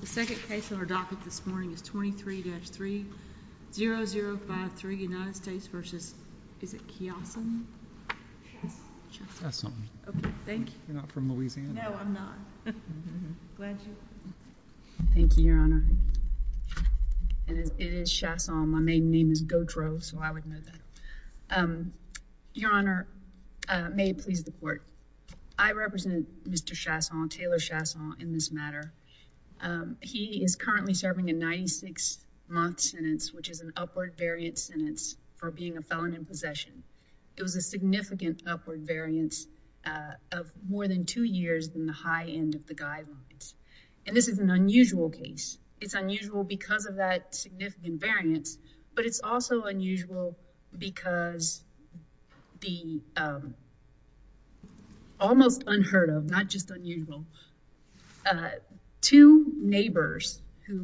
The second case on our docket this morning is 23-30053 United States v. Chiasson Your Honor, may it please the court. I represent Mr. Chiasson, Taylor Chiasson, in this matter. He is currently serving a 96-month sentence, which is an upward variant sentence for being a felon in possession. It was a significant upward variance of more than two years than the high end of the guidelines. And this is an unusual case. It's unusual because of that significant variance, but it's also unusual because the almost unheard of, not just unusual, two neighbors of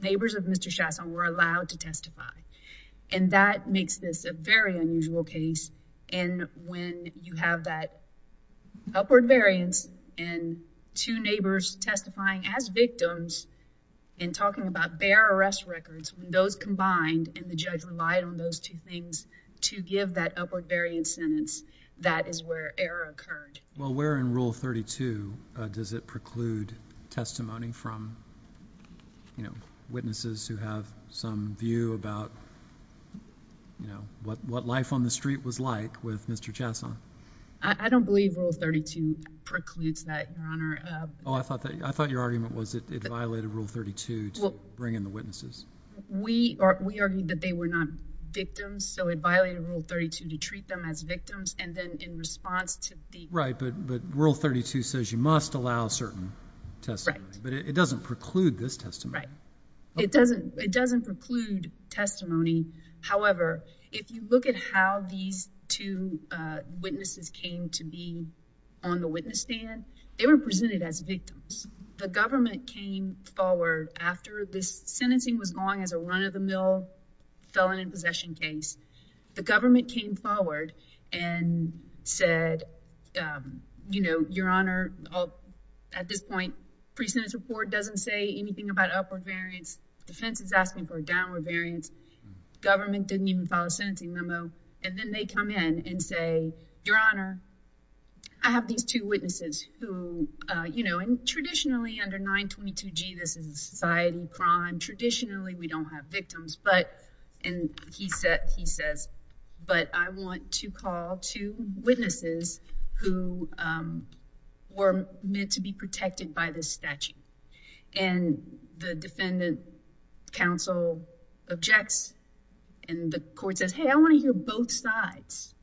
Mr. Chiasson were allowed to testify. And that makes this a very unusual case. And when you have that upward variance and two neighbors testifying as victims and talking about bare arrest records, when those combined and the judge relied on those two things to give that upward variance sentence, that is where error occurred. Well, where in Rule 32 does it preclude testimony from witnesses who have some view about what life on the street was like with Mr. Chiasson? I don't believe Rule 32 precludes that, Your Honor. Oh, I thought your argument was that it violated Rule 32 to bring in the witnesses. We argued that they were not victims, so it violated Rule 32 to treat them as victims and then in response to the... Right, but Rule 32 says you must allow certain testimony. Right. But it doesn't preclude this testimony. Right. It doesn't preclude testimony. However, if you look at how these two witnesses came to be on the witness stand, they were presented as victims. The government came forward after this sentencing was long as a run-of-the-mill felon in possession case. The government came forward and said, you know, Your Honor, at this point, pre-sentence report doesn't say anything about upward variance. Defense is asking for a downward variance. Government didn't even file a sentencing memo and then they come in and say, Your Honor, I have these two witnesses who, you know, and traditionally under 922G, this is a society crime. Traditionally, we don't have victims, but, and he says, but I want to call two witnesses who were meant to be protected by this statute. And the defendant counsel objects and the court says, hey, I want to hear both sides.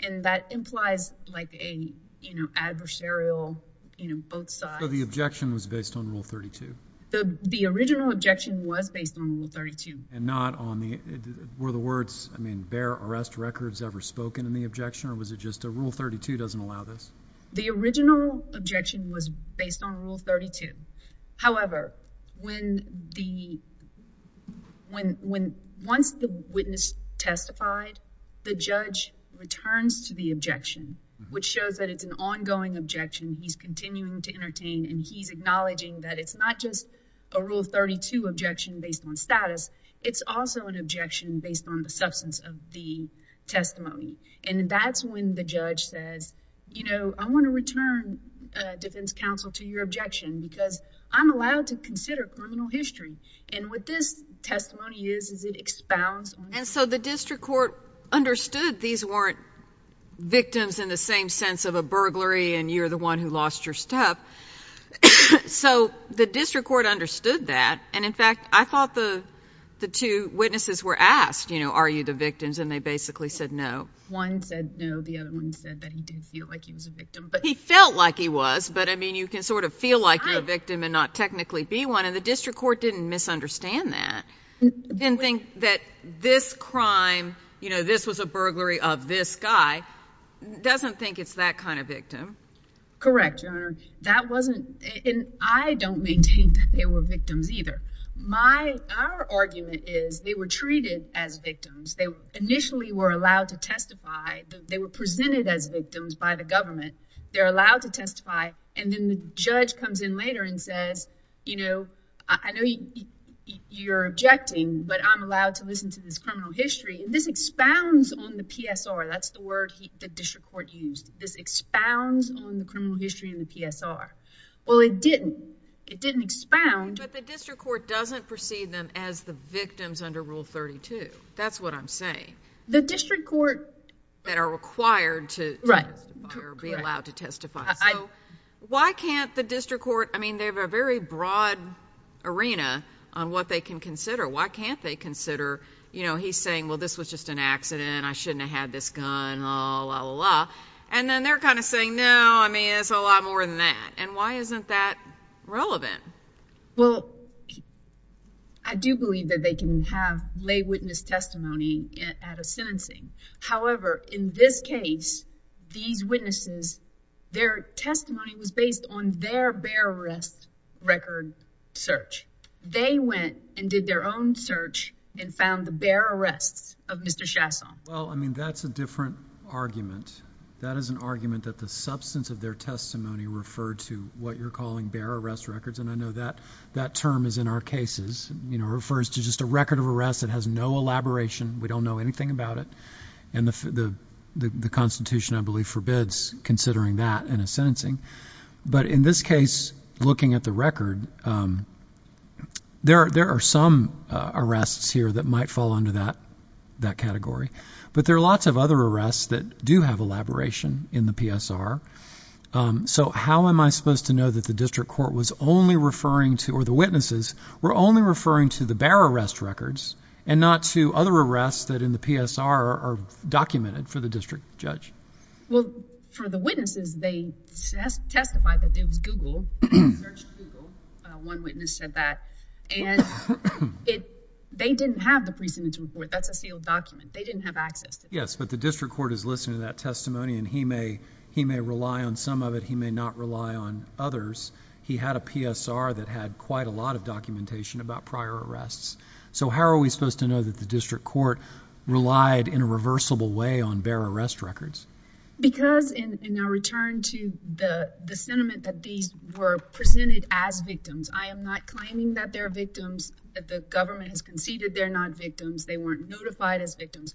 And that implies like a, you know, adversarial, you know, both sides. So the objection was based on Rule 32? The original objection was based on Rule 32. And not on the, were the words, I mean, bear arrest records ever spoken in the objection or was it just a Rule 32 doesn't allow this? The original objection was based on Rule 32. However, when the, when, when, once the witness testified, the judge returns to the objection, which shows that it's an ongoing objection. He's continuing to entertain and he's acknowledging that it's not just a Rule 32 objection based on status. It's also an objection based on the substance of the testimony. And that's when the judge says, you know, I want to return a defense counsel to your objection because I'm allowed to consider criminal history. And what this testimony is, is it expounds on. And so the district court understood these weren't victims in the same sense of a burglary and you're the one who lost your stuff. So the district court understood that. And in fact, I thought the, the two witnesses were asked, you know, are you the victims? And they basically said, no. One said, no. The other one said that he did feel like he was a victim, but he felt like he was, but I mean, you can sort of feel like you're a victim and not technically be one. And the district court didn't misunderstand that. And think that this crime, you know, this was a burglary of this guy. Doesn't think it's that kind of victim. Correct. Your honor. That wasn't in, I don't maintain that they were victims either. My, our argument is they were treated as victims. They initially were allowed to testify. They were presented as victims by the government. They're allowed to testify. And then the judge comes in later and says, you know, I know you, you're objecting, but I'm allowed to listen to this criminal history and this expounds on the PSR. That's the word the district court used. This expounds on the criminal history and the PSR. Well, it didn't, it didn't expound, but the district court doesn't proceed them as the victims under rule 32. That's what I'm saying. The district court that are required to be allowed to testify. So why can't the district court, I mean, they have a very broad arena on what they can consider. Why can't they consider, you know, he's saying, well, this was just an accident. I shouldn't have had this gun. Oh, la la la. And then they're kind of saying, no, I mean, it's a lot more than that. And why isn't that relevant? Well, I do believe that they can have lay witness testimony at a sentencing. However, in this case, these their testimony was based on their bear arrest record search. They went and did their own search and found the bear arrests of Mr. Chasson. Well, I mean, that's a different argument. That is an argument that the substance of their testimony referred to what you're calling bear arrest records. And I know that that term is in our cases, you know, refers to just a record of arrest. It has no elaboration. We don't know anything about it. And the, the Constitution, I believe, forbids considering that in a sentencing. But in this case, looking at the record, there are some arrests here that might fall under that category. But there are lots of other arrests that do have elaboration in the PSR. So how am I supposed to know that the district court was only referring to or the witnesses were only referring to the bear arrests? How many PSR are documented for the district judge? Well, for the witnesses, they testified that it was Google. They searched Google. One witness said that. And they didn't have the precedence report. That's a sealed document. They didn't have access to it. Yes, but the district court is listening to that testimony. And he may, he may rely on some of it. He may not rely on others. He had a PSR that had quite a lot of documentation about prior arrests. So how are we supposed to know that the district court relied in a reversible way on bear arrest records? Because in our return to the sentiment that these were presented as victims, I am not claiming that they're victims, that the government has conceded they're not victims. They weren't notified as victims.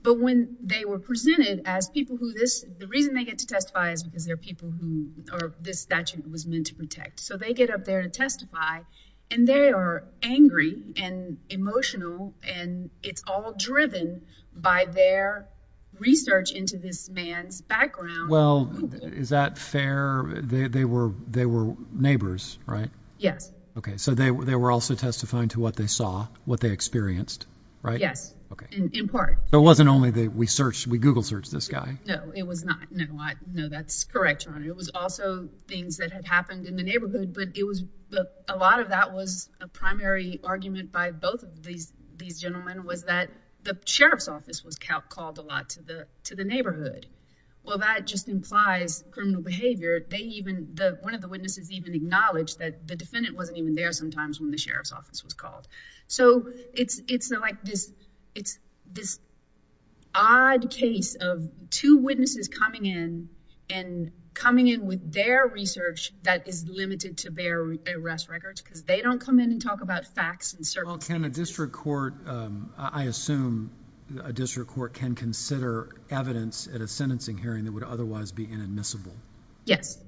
But when they were presented as people who this, the reason they get to testify is because they're people who are, this statute was meant to protect. So they get up there to testify and they are angry and emotional and it's all driven by their research into this man's background. Well, is that fair? They were, they were neighbors, right? Yes. Okay. So they were, they were also testifying to what they saw, what they experienced, right? Yes. Okay. In part. It wasn't only that we searched, we Google searched this guy. No, it was not. No, I know that's correct, John. It was also things that had happened in the neighborhood, but it was, a lot of that was a primary argument by both of these, these gentlemen was that the Sheriff's office was called, called a lot to the, to the neighborhood. Well, that just implies criminal behavior. They even, the, one of the witnesses even acknowledged that the defendant wasn't even there sometimes when the Sheriff's office was called. So it's, it's like this, it's this odd case of two witnesses coming in and coming in with their research that is limited to bear arrest records because they don't come in and talk about facts and certain. Well, can a district court, um, I assume a district court can consider evidence at a sentencing hearing that would otherwise be inadmissible. Yes.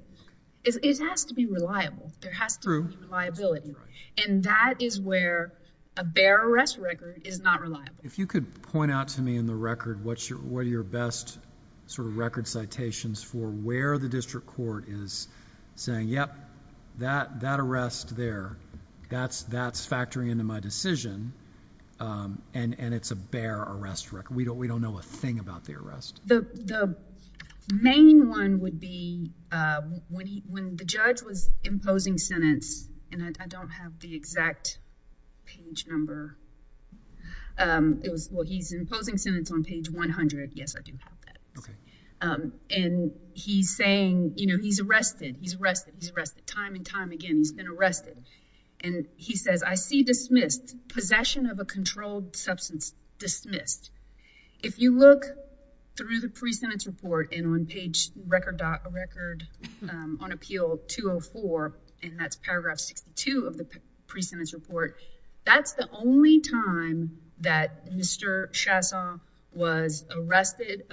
It has to be reliable. There has to be reliability. And that is where a bear arrest record is not reliable. If you could point out to me in the record, what's your, what are your best sort of record citations for where the district court is saying, yep, that, that arrest there, that's, that's factoring into my decision, um, and, and it's a bear arrest record. We don't, we don't know a thing about the arrest. The, the main one would be, uh, when he, when the judge was imposing sentence, and I don't have the exact page number. Um, it was, well, he's imposing sentence on page 100. Yes, I do have that. Okay. Um, and he's saying, you know, he's arrested, he's arrested, he's arrested time and time again, he's been arrested. And he says, I see dismissed possession of a controlled substance dismissed. If you look through the pre-sentence report and on page record dot record, um, on appeal 204, and that's paragraph 62 of the pre-sentence report, that's the only time that Mr. Chasson was arrested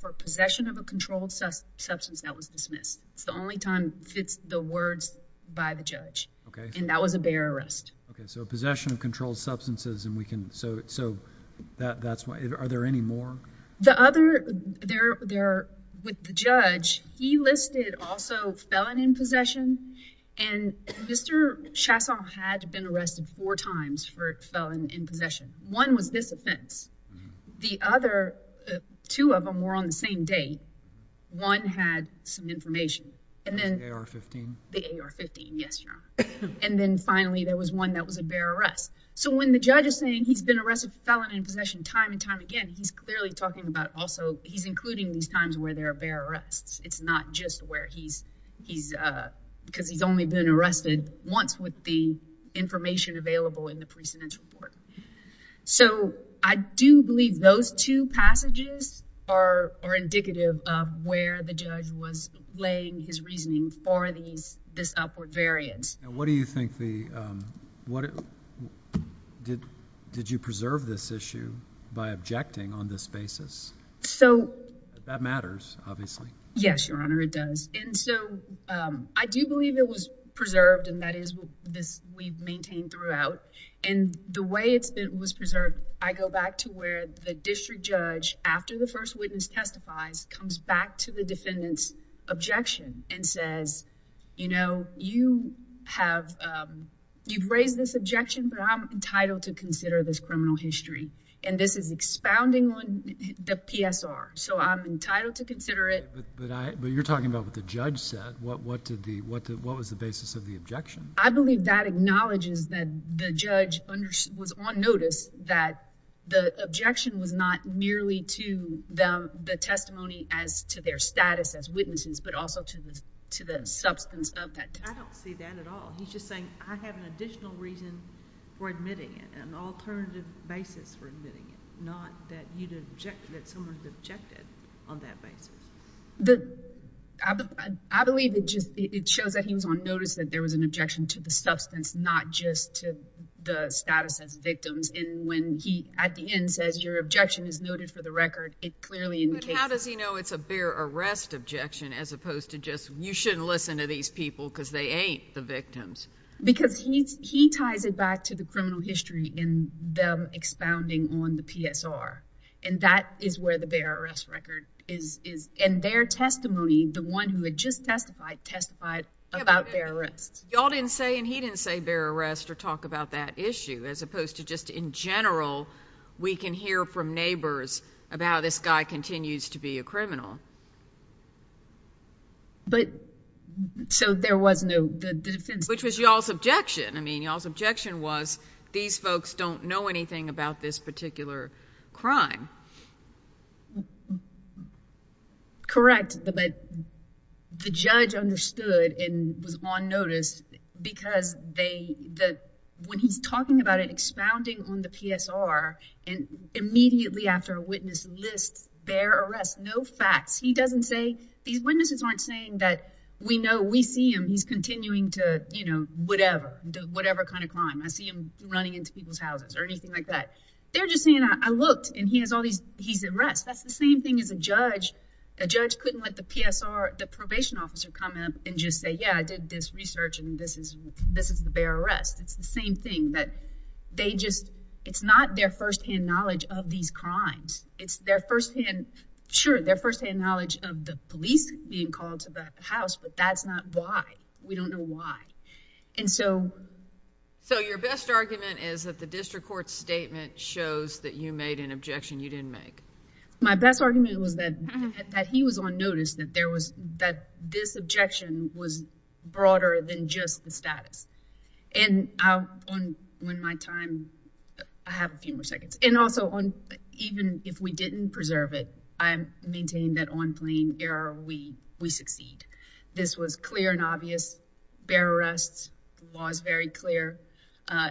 for possession of a controlled substance that was dismissed. It's the only time fits the words by the judge. Okay. And that was a bear arrest. Okay. So possession of controlled substances, and we can, so, so that, that's why, are there any more? The other, there, there, with the judge, he listed also felon in possession, and Mr. Chasson had been arrested four times for felon in possession. One was this offense. The other, two of them were on the same date. One had some information. And then, The AR-15? The AR-15, yes, Your Honor. And then finally, there was one that was a bear arrest. So when the judge is saying he's been arrested for felon in possession time and time again, he's clearly talking about also, he's including these times where there are bear arrests. It's not just where he's, he's, uh, because he's only been arrested once with the information available in the pre-sentence report. So I do believe those two passages are, are indicative of where the judge was his reasoning for these, this upward variance. And what do you think the, um, what, did, did you preserve this issue by objecting on this basis? So, That matters, obviously. Yes, Your Honor, it does. And so, um, I do believe it was preserved, and that is this we've maintained throughout. And the way it's been, was preserved, I go back to where the district judge, after the first witness testifies, comes back to the defendant's objection and says, you know, you have, um, you've raised this objection, but I'm entitled to consider this criminal history. And this is expounding on the PSR. So I'm entitled to consider it. But I, but you're talking about what the judge said. What, what did the, what, what was the basis of the objection? I believe that acknowledges that the judge was on notice that the objection was not merely to them, the testimony as to their status as witnesses, but also to the, to the substance of that. I don't see that at all. He's just saying, I have an additional reason for admitting it, an alternative basis for admitting it, not that you'd object, that someone's objected on that basis. The, I believe it just, it shows that he was on notice that there was an objection to the at the end says your objection is noted for the record. It clearly in the case. How does he know it's a bear arrest objection as opposed to just, you shouldn't listen to these people because they ain't the victims. Because he's, he ties it back to the criminal history in them expounding on the PSR. And that is where the bear arrest record is, is, and their testimony, the one who had just testified, testified about bear arrest. Y'all didn't say, and he didn't say bear arrest or talk about that we can hear from neighbors about how this guy continues to be a criminal. But, so there was no, the defense, which was y'all's objection. I mean, y'all's objection was these folks don't know anything about this particular crime. Correct. But the judge understood and was on notice because they, the, when he's talking about it, expounding on the PSR and immediately after a witness lists bear arrest, no facts, he doesn't say these witnesses aren't saying that we know we see him. He's continuing to, you know, whatever, whatever kind of crime I see him running into people's houses or anything like that. They're just saying, I looked and he has all these, he's at rest. That's the same thing as a judge. A judge couldn't let the PSR, the probation officer come up and just say, yeah, I did this research and this is, this is the bear arrest. It's the same thing that they just, it's not their firsthand knowledge of these crimes. It's their firsthand. Sure. Their firsthand knowledge of the police being called to the house, but that's not why we don't know why. And so. So your best argument is that the district court statement shows that you made an objection you didn't make. My best argument was that, that he was on notice that there was that this objection was broader than just the status and how on when my time, I have a few more seconds and also on, even if we didn't preserve it, I'm maintaining that on plane error. We, we succeed. This was clear and obvious bear arrests was very clear.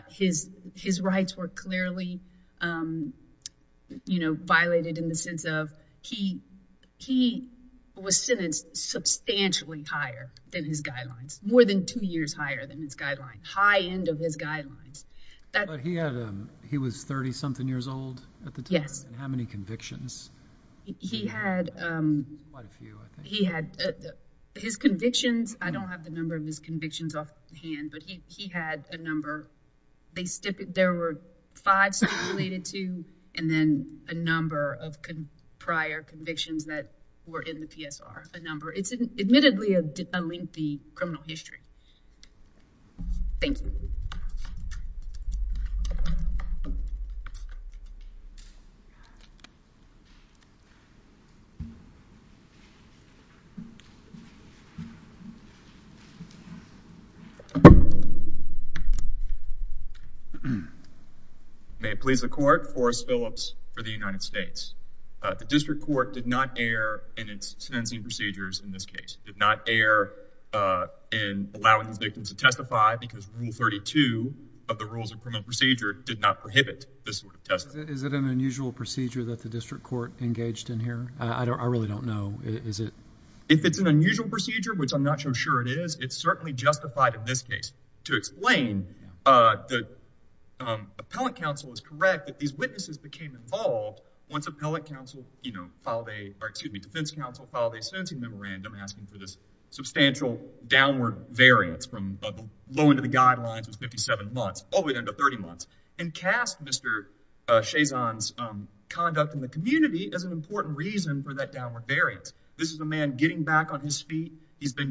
His, his rights were clearly, you know, violated in the sense of he, he was sentenced substantially higher than his guidelines, more than two years higher than his guideline, high end of his guidelines that he had, um, he was 30 something years old at the time. And how many convictions he had, um, he had his convictions. I don't have the number of his convictions off hand, but he, he had a number, they stip, there were five stipulated to, and then a number of prior convictions that were in the PSR, a number it's admittedly a lengthy criminal history. Thank you. Hmm. May it please the court, Forrest Phillips for the United States. Uh, the district court did not err in its sentencing procedures. In this case, did not err, uh, in allowing these victims to testify because rule 32 of the rules of criminal procedure did not prohibit this sort of test. Is it an unusual procedure that the district court engaged in here? I don't, I really don't know. Is it, if it's an unusual procedure, which I'm not so sure it is, it's certainly justified in this case to explain, uh, the, um, appellate counsel is correct that these witnesses became involved once appellate counsel, you know, filed a, or excuse me, defense counsel filed a sentencing memorandum asking for this substantial downward variance from the low end of the guidelines was 57 months all the way down to 30 months and cast Mr. Chazon's, um, conduct in the community as an important reason for that downward variance. This is a man getting back on his feet. He's but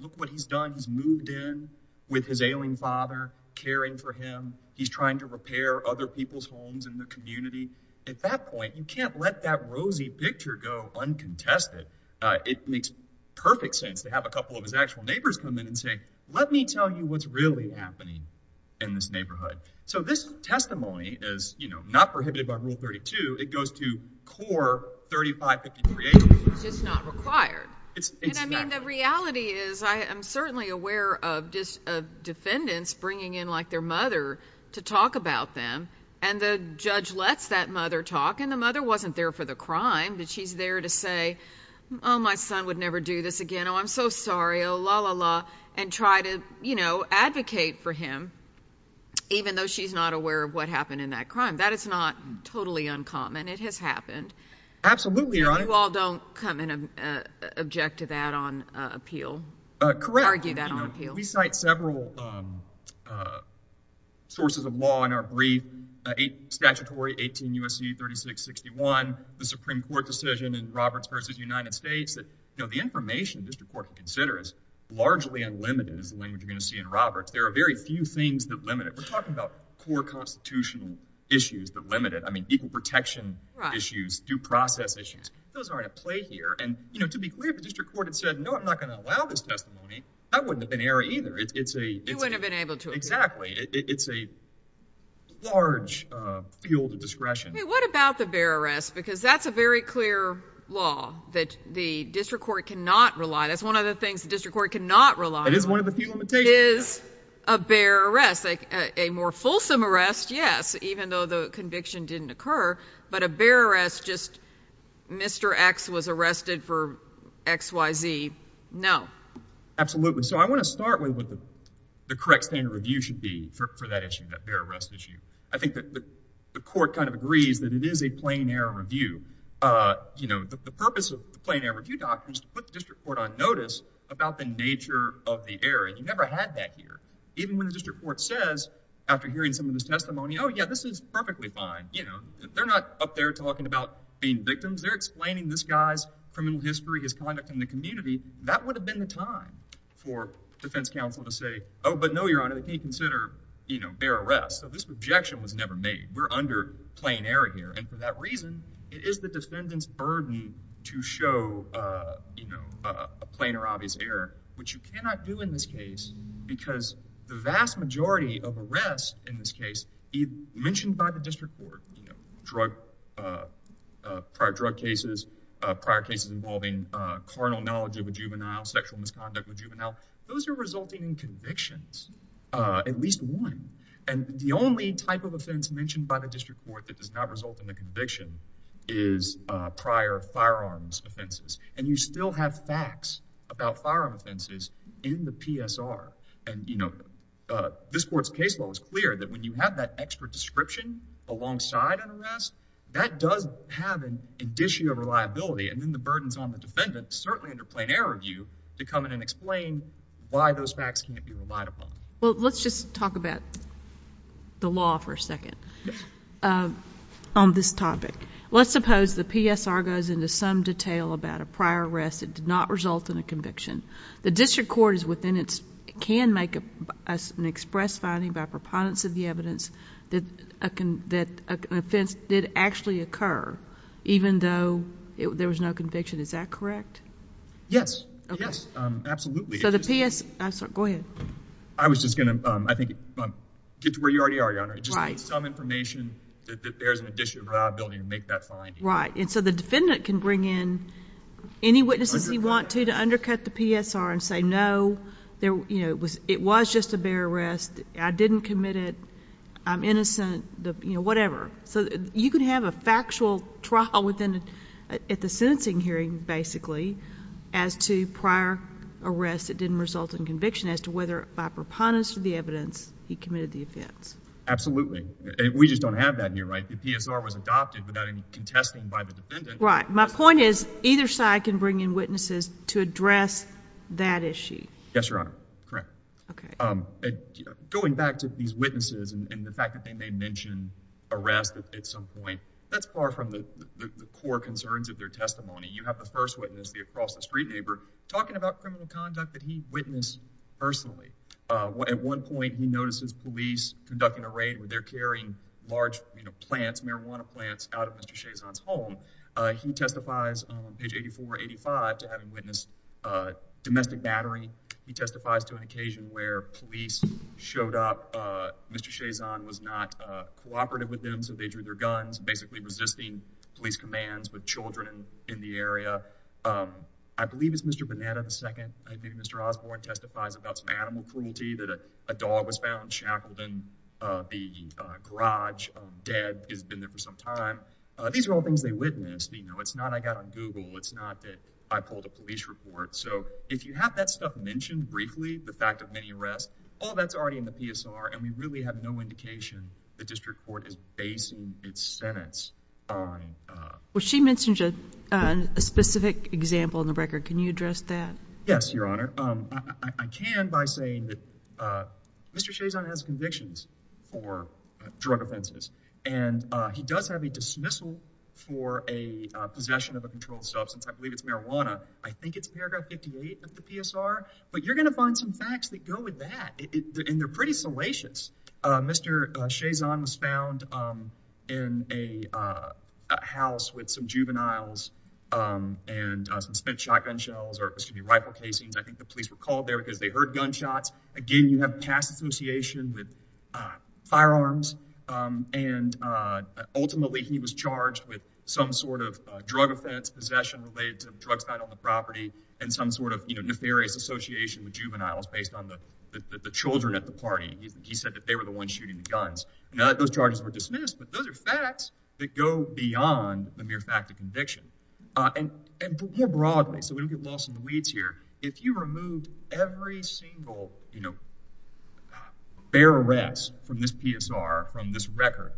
look what he's done. He's moved in with his ailing father, caring for him. He's trying to repair other people's homes in the community. At that point, you can't let that rosy picture go uncontested. Uh, it makes perfect sense to have a couple of his actual neighbors come in and say, let me tell you what's really happening in this neighborhood. So this testimony is not 32. It goes to core 35 53. It's just not required. And I mean, the reality is I am certainly aware of just defendants bringing in like their mother to talk about them. And the judge lets that mother talk. And the mother wasn't there for the crime that she's there to say, oh, my son would never do this again. Oh, I'm so sorry. Oh, la la la. And try to, you know, advocate for him, even though she's not aware of what happened in that crime. That is not totally uncommon. It has happened. Absolutely right. You all don't come in and object to that on appeal. Correct. Argue that on appeal. We cite several, um, uh, sources of law in our brief, eight statutory 18 U. S. C. 36 61. The Supreme Court decision in Roberts versus United States that, you know, the information this report considers largely unlimited is the language you're going to see in Roberts. There are very few things that limited. We're talking about core constitutional issues that limited. I mean, equal protection issues, due process issues. Those are to play here. And, you know, to be clear, the district court had said, No, I'm not going to allow this testimony. I wouldn't have been area either. It's a it wouldn't have been able to exactly. It's a large field of discretion. What about the bear arrest? Because that's a very clear law that the district court cannot rely. That's one of the things the district court cannot rely. It is one of the few limitations. It is a bear arrest, like a more fulsome arrest. Yes, even though the conviction didn't occur, but a bear arrest, just Mr X was arrested for X Y Z. No, absolutely. So I want to start with what the correct standard review should be for that issue. That bear arrest issue. I think that the court kind of agrees that it is a plain air review. Uh, you know, the purpose of plain air review doctrines to put district court on notice about the nature of the air. And you never had that here. Even when the district court says after hearing some of this testimony, Oh, yeah, this is perfectly fine. You know, they're not up there talking about being victims. They're explaining this guy's criminal history, his conduct in the community. That would have been the time for defense counsel to say, Oh, but no, Your Honor, they can't consider, you know, bear arrest. So this objection was never made. We're under plain air here. And for that reason, it is the defendant's you know, a plain or obvious error, which you cannot do in this case because the vast majority of arrests in this case mentioned by the district court drug prior drug cases, prior cases involving carnal knowledge of a juvenile sexual misconduct with juvenile. Those are resulting in convictions, at least one. And the only type of offense mentioned by the district court that does result in the conviction is prior firearms offenses. And you still have facts about firearm offenses in the PSR. And you know, this court's caseload is clear that when you have that extra description alongside an arrest that does have an addition of reliability and then the burdens on the defendant, certainly under plain air review to come in and explain why those facts can't be reliable. Well, let's just talk about the law for a second on this topic. Let's suppose the PSR goes into some detail about a prior arrest that did not result in a conviction. The district court is within its, can make an express finding by preponderance of the evidence that an offense did actually occur, even though there was no conviction. Is that correct? Yes, yes, absolutely. So the PS, I'm sorry, go ahead. I was just going to, I think get to where you already are, your honor, just some information that there's an addition of reliability and make that fine. Right. And so the defendant can bring in any witnesses you want to, to undercut the PSR and say, no, there, you know, it was, it was just a bare arrest. I didn't commit it. I'm innocent. The, you know, whatever. So you can have a factual trial within the, at the sentencing hearing, basically as to prior arrest, it didn't result in conviction as to whether by preponderance of the evidence he committed the offense. Absolutely. And we just don't have that here, right? The PSR was adopted without any contesting by the defendant. Right. My point is either side can bring in witnesses to address that issue. Yes, your honor. Correct. Okay. Going back to these witnesses and the fact that they may mention arrest at some point, that's far from the core concerns of their testimony. You have the first witness, the across the street neighbor talking about criminal conduct that he witnessed personally. At one point he notices police conducting a raid where they're carrying large plants, marijuana plants out of Mr. Chazon's home. He testifies on page 84, 85 to having witnessed a domestic battery. He testifies to an occasion where police showed up. Mr. Chazon was not cooperative with them. So they drew their guns, basically resisting police commands with children in the area. I believe it's Mr. Bonetta, the second. I think Mr. Osborne testifies about some animal cruelty that a dog was found shackled in the garage of dead has been there for some time. These are all things they witnessed. You know, it's not, I got on Google. It's not that I pulled a police report. So if you have that stuff mentioned briefly, the fact of many arrests, all that's already in the PSR. And we really have no indication. The district court is basing its sentence on, uh, well, she mentioned, uh, a specific example in the record. Can you address that? Yes, your honor. Um, I can, by saying that, uh, Mr. Chazon has convictions for drug offenses and, uh, he does have a dismissal for a possession of a controlled substance. I believe it's marijuana. I think it's paragraph 58 of the PSR, but you're going to find some facts that go with that. And they're pretty salacious. Uh, Mr. Chazon was found, um, in a, uh, house with some juveniles, um, and, uh, some spent shotgun shells or excuse me, rifle casings. I think the police were called there because they heard gunshots. Again, you have past association with, uh, firearms. Um, and, uh, ultimately he was charged with some sort of, uh, drug offense, possession related to drugs, not on the property and some sort of, you know, nefarious association with juveniles based on the, the, the children at the party. He said that they were the ones shooting the guns. Now that those charges were dismissed, but those are facts that go beyond the mere fact of conviction. Uh, and, and more broadly, so we don't get lost in the weeds here. If you removed every single, you know, bear arrest from this PSR, from this record,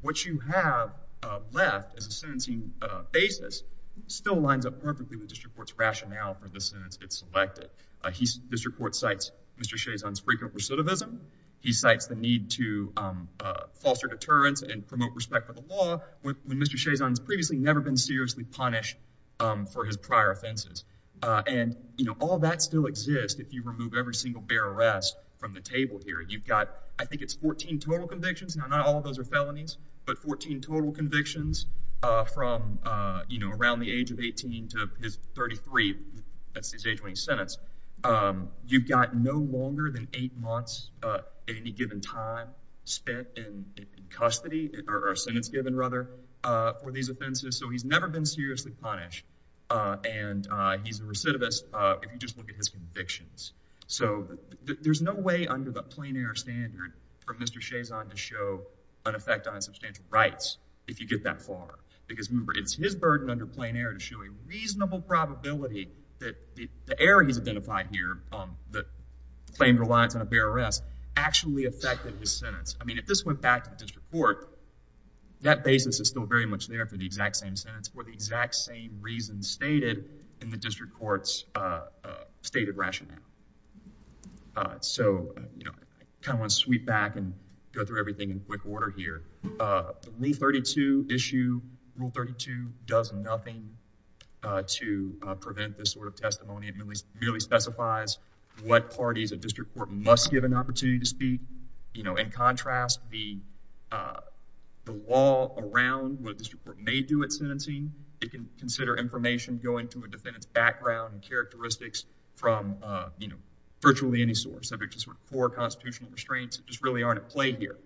what you have, uh, left as a sentencing, uh, basis still lines up perfectly with district court's rationale for the sentence it's selected. Uh, he's district court cites Mr. Chazon's frequent recidivism. He cites the need to, um, uh, foster deterrence and promote respect for the law when Mr. Chazon's previously never been seriously punished, um, for his prior offenses. Uh, and you know, all that still exists. If you remove every single bear arrest from the table here, you've got, I think it's 14 total convictions. Now, not all of those are felonies, but 14 total convictions, uh, from, uh, you know, around the age of 18 to his 33, that's his age when he's sentenced. Um, you've got no longer than eight months, uh, at any given time spent in custody or sentence given rather, uh, for these offenses. So he's never been seriously punished. Uh, and, uh, he's a recidivist, uh, if you just look at his convictions. So there's no way under the plain air standard for Mr. Chazon to show an effect on his substantial rights if you get that far. Because remember, it's his burden under plain air to show a reasonable probability that the error he's identified here, um, that claimed reliance on a bear arrest actually affected his sentence. I mean, if this went back to the district court, that basis is still very much there for the exact same sentence for the exact same reasons stated in the district court's, uh, uh, stated rationale. Uh, so, you know, I kind of want to sweep back and go through everything in quick order here. Uh, the Rule 32 issue, Rule 32 does nothing, uh, to, uh, prevent this sort of testimony. It merely specifies what parties a district court must give an opportunity to speak. You know, in contrast, the, uh, the law around what a district court may do at sentencing, it can consider information going to a defendant's background and characteristics from, uh, you know, virtually any source subject to sort of core constitutional restraints that just really aren't at play here.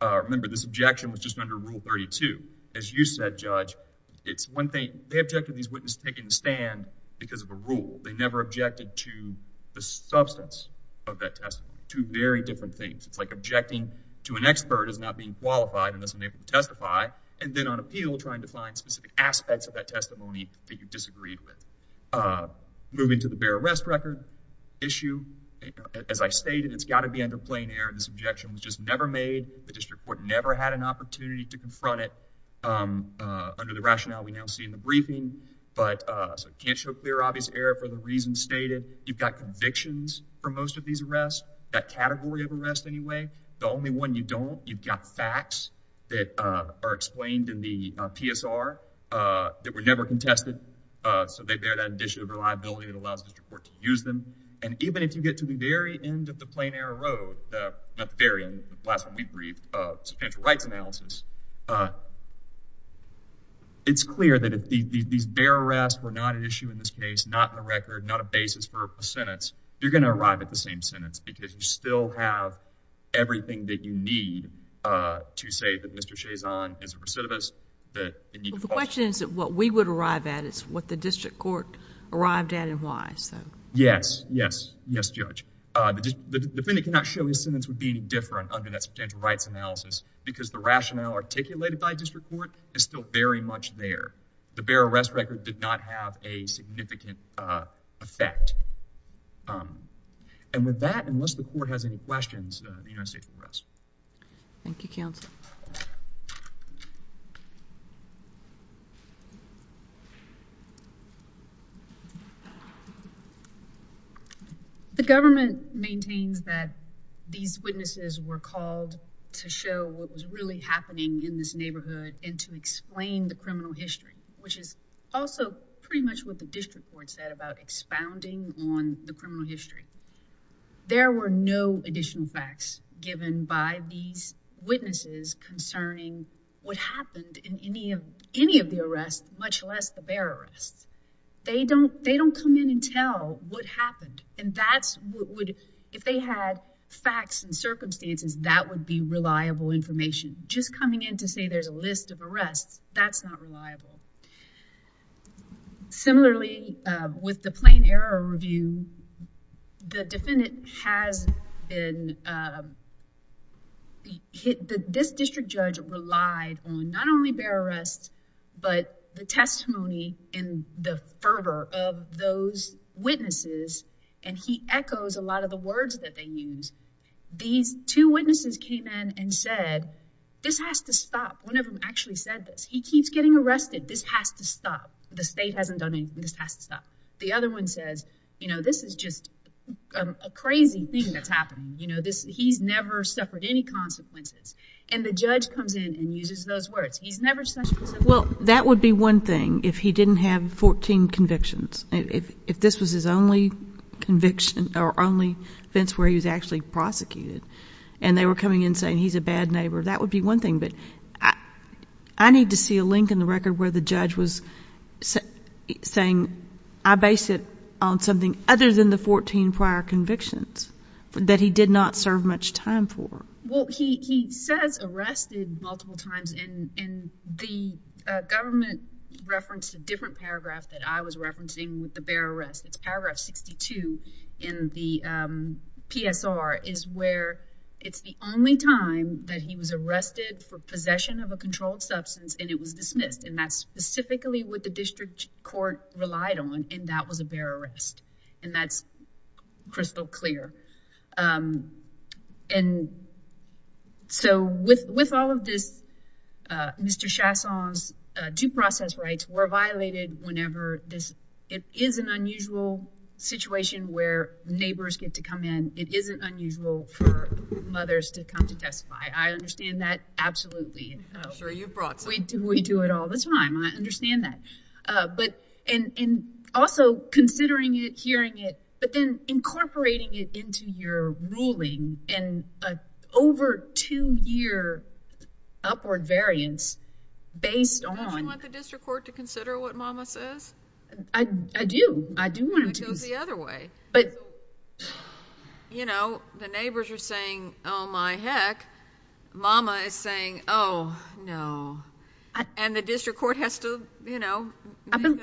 Uh, remember, this objection was just under Rule 32. As you said, Judge, it's one thing, they objected to these witnesses taking the stand because of a rule. They never objected to the substance of that testimony. Two very different things. It's like objecting to an expert as not being qualified unless I'm able to testify and then on appeal trying to find specific aspects of that testimony that you disagreed with. Uh, moving to the bear arrest record issue, as I stated, it's got to be under plain error. This objection was just never made. The district court never had an opportunity to confront it, um, uh, under the rationale we stated. You've got convictions for most of these arrests, that category of arrest anyway. The only one you don't, you've got facts that, uh, are explained in the, uh, PSR, uh, that were never contested. Uh, so they bear that additional reliability that allows the district court to use them. And even if you get to the very end of the plain error road, uh, not the very end, the last one we briefed, uh, substantial rights analysis, uh, it's clear that these bear arrests were not an issue in this case, not in the record, not a basis for a sentence. You're going to arrive at the same sentence because you still have everything that you need, uh, to say that Mr. Chazon is a recidivist. The question is that what we would arrive at is what the district court arrived at and why. So yes, yes, yes, judge. Uh, the defendant cannot show his sentence would be any different under that substantial rights analysis because the rationale articulated by district court is still very much there. The bear arrest record did not have a significant, uh, effect. Um, and with that, unless the court has any questions, uh, the United States arrest. Thank you, counsel. The government maintains that these witnesses were called to show what was really happening in this neighborhood and to explain the criminal history, which is also pretty much what the district court said about expounding on the criminal history. There were no additional facts given by these witnesses concerning what happened in any of, any of the arrests, much less the bear arrests. They don't, they don't come in and tell what happened and that's what would, if they had facts and circumstances, that would be reliable information. Just coming in to say there's a list of arrests. That's not reliable. Similarly, uh, with the plain error review, the defendant has been, uh, hit the, this district judge relied on not only bear arrests, but the testimony and the fervor of those witnesses. And he echoes a lot of the words that they use. These two witnesses came in and said, this has to stop. One of them actually said this, he keeps getting arrested. This has to stop. The state hasn't done anything. This has to stop. The other one says, you know, this is just a crazy thing that's happening. You know, this, he's never suffered any consequences. And the judge comes in and uses those words. He's never Well, that would be one thing if he didn't have 14 convictions. If this was his only conviction or only fence where he was actually prosecuted and they were coming in saying he's a bad neighbor, that would be one thing. But I need to see a link in the record where the judge was saying, I based it on something other than the 14 prior convictions that he did not serve much time for. Well, he says arrested multiple times in the government referenced a different paragraph that I was referencing with the bear arrest. It's paragraph 62 in the PSR is where it's the only time that he was arrested for possession of a controlled substance and it was dismissed. And that's specifically what the district court relied on. And that was a bear arrest. And that's still clear. And so with all of this, Mr. Chasson's due process rights were violated whenever this, it is an unusual situation where neighbors get to come in. It isn't unusual for mothers to come to testify. I understand that. Absolutely. We do it all. That's fine. I understand that. But and also considering it, hearing it, but then incorporating it into your ruling and over two year upward variance based on... Do you want the district court to consider what mama says? I do. I do want him to. It goes the other way. But you know, the neighbors are saying, oh my heck, mama is saying, oh no. And the district court has to, you know, make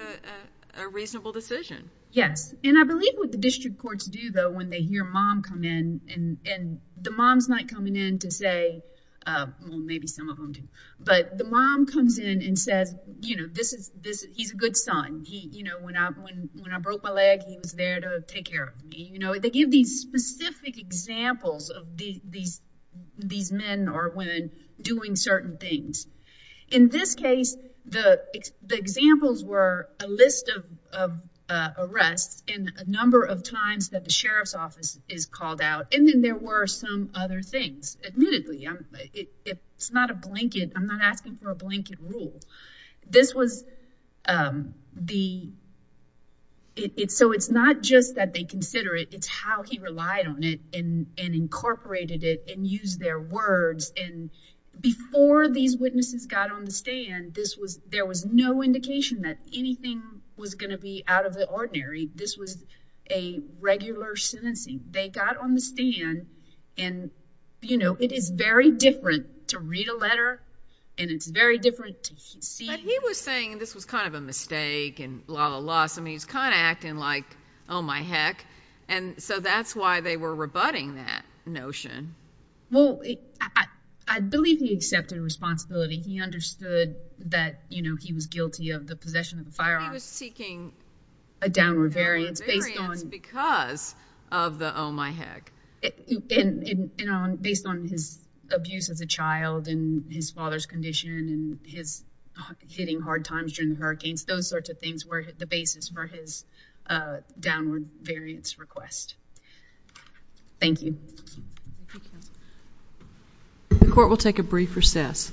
a reasonable decision. Yes. And I believe what the district courts do though, when they hear mom come in and the mom's not coming in to say, well, maybe some of them do, but the mom comes in and says, you know, this is, this, he's a good son. He, you know, when I, when, when I broke my leg, he was there to take care of me. You know, they give these specific examples of these, these men or women doing certain things. In this case, the examples were a list of arrests and a number of times that the sheriff's office is called out. And then there were some other things. Admittedly, it's not a blanket. I'm not asking for a blanket rule. This was the, so it's not just that they consider it, it's how he relied on it and incorporated it and used their words. And before these witnesses got on the stand, this was, there was no indication that anything was going to be out of the ordinary. This was a regular sentencing. They got on the stand and, you know, it is very different to read a letter and it's very different to see. But he was saying, and this was kind of a mistake and blah, blah, blah. So I mean, he's kind of acting like, oh my heck. And so that's why they were rebutting that notion. Well, I believe he accepted responsibility. He understood that, you know, he was guilty of the possession of the firearm. He was seeking a downward variance based on. Because of the, oh my heck. And based on his abuse as a child and his father's condition and his hitting hard times during the hurricanes, those sorts of things were the basis for his downward variance request. Thank you. The court will take a brief recess.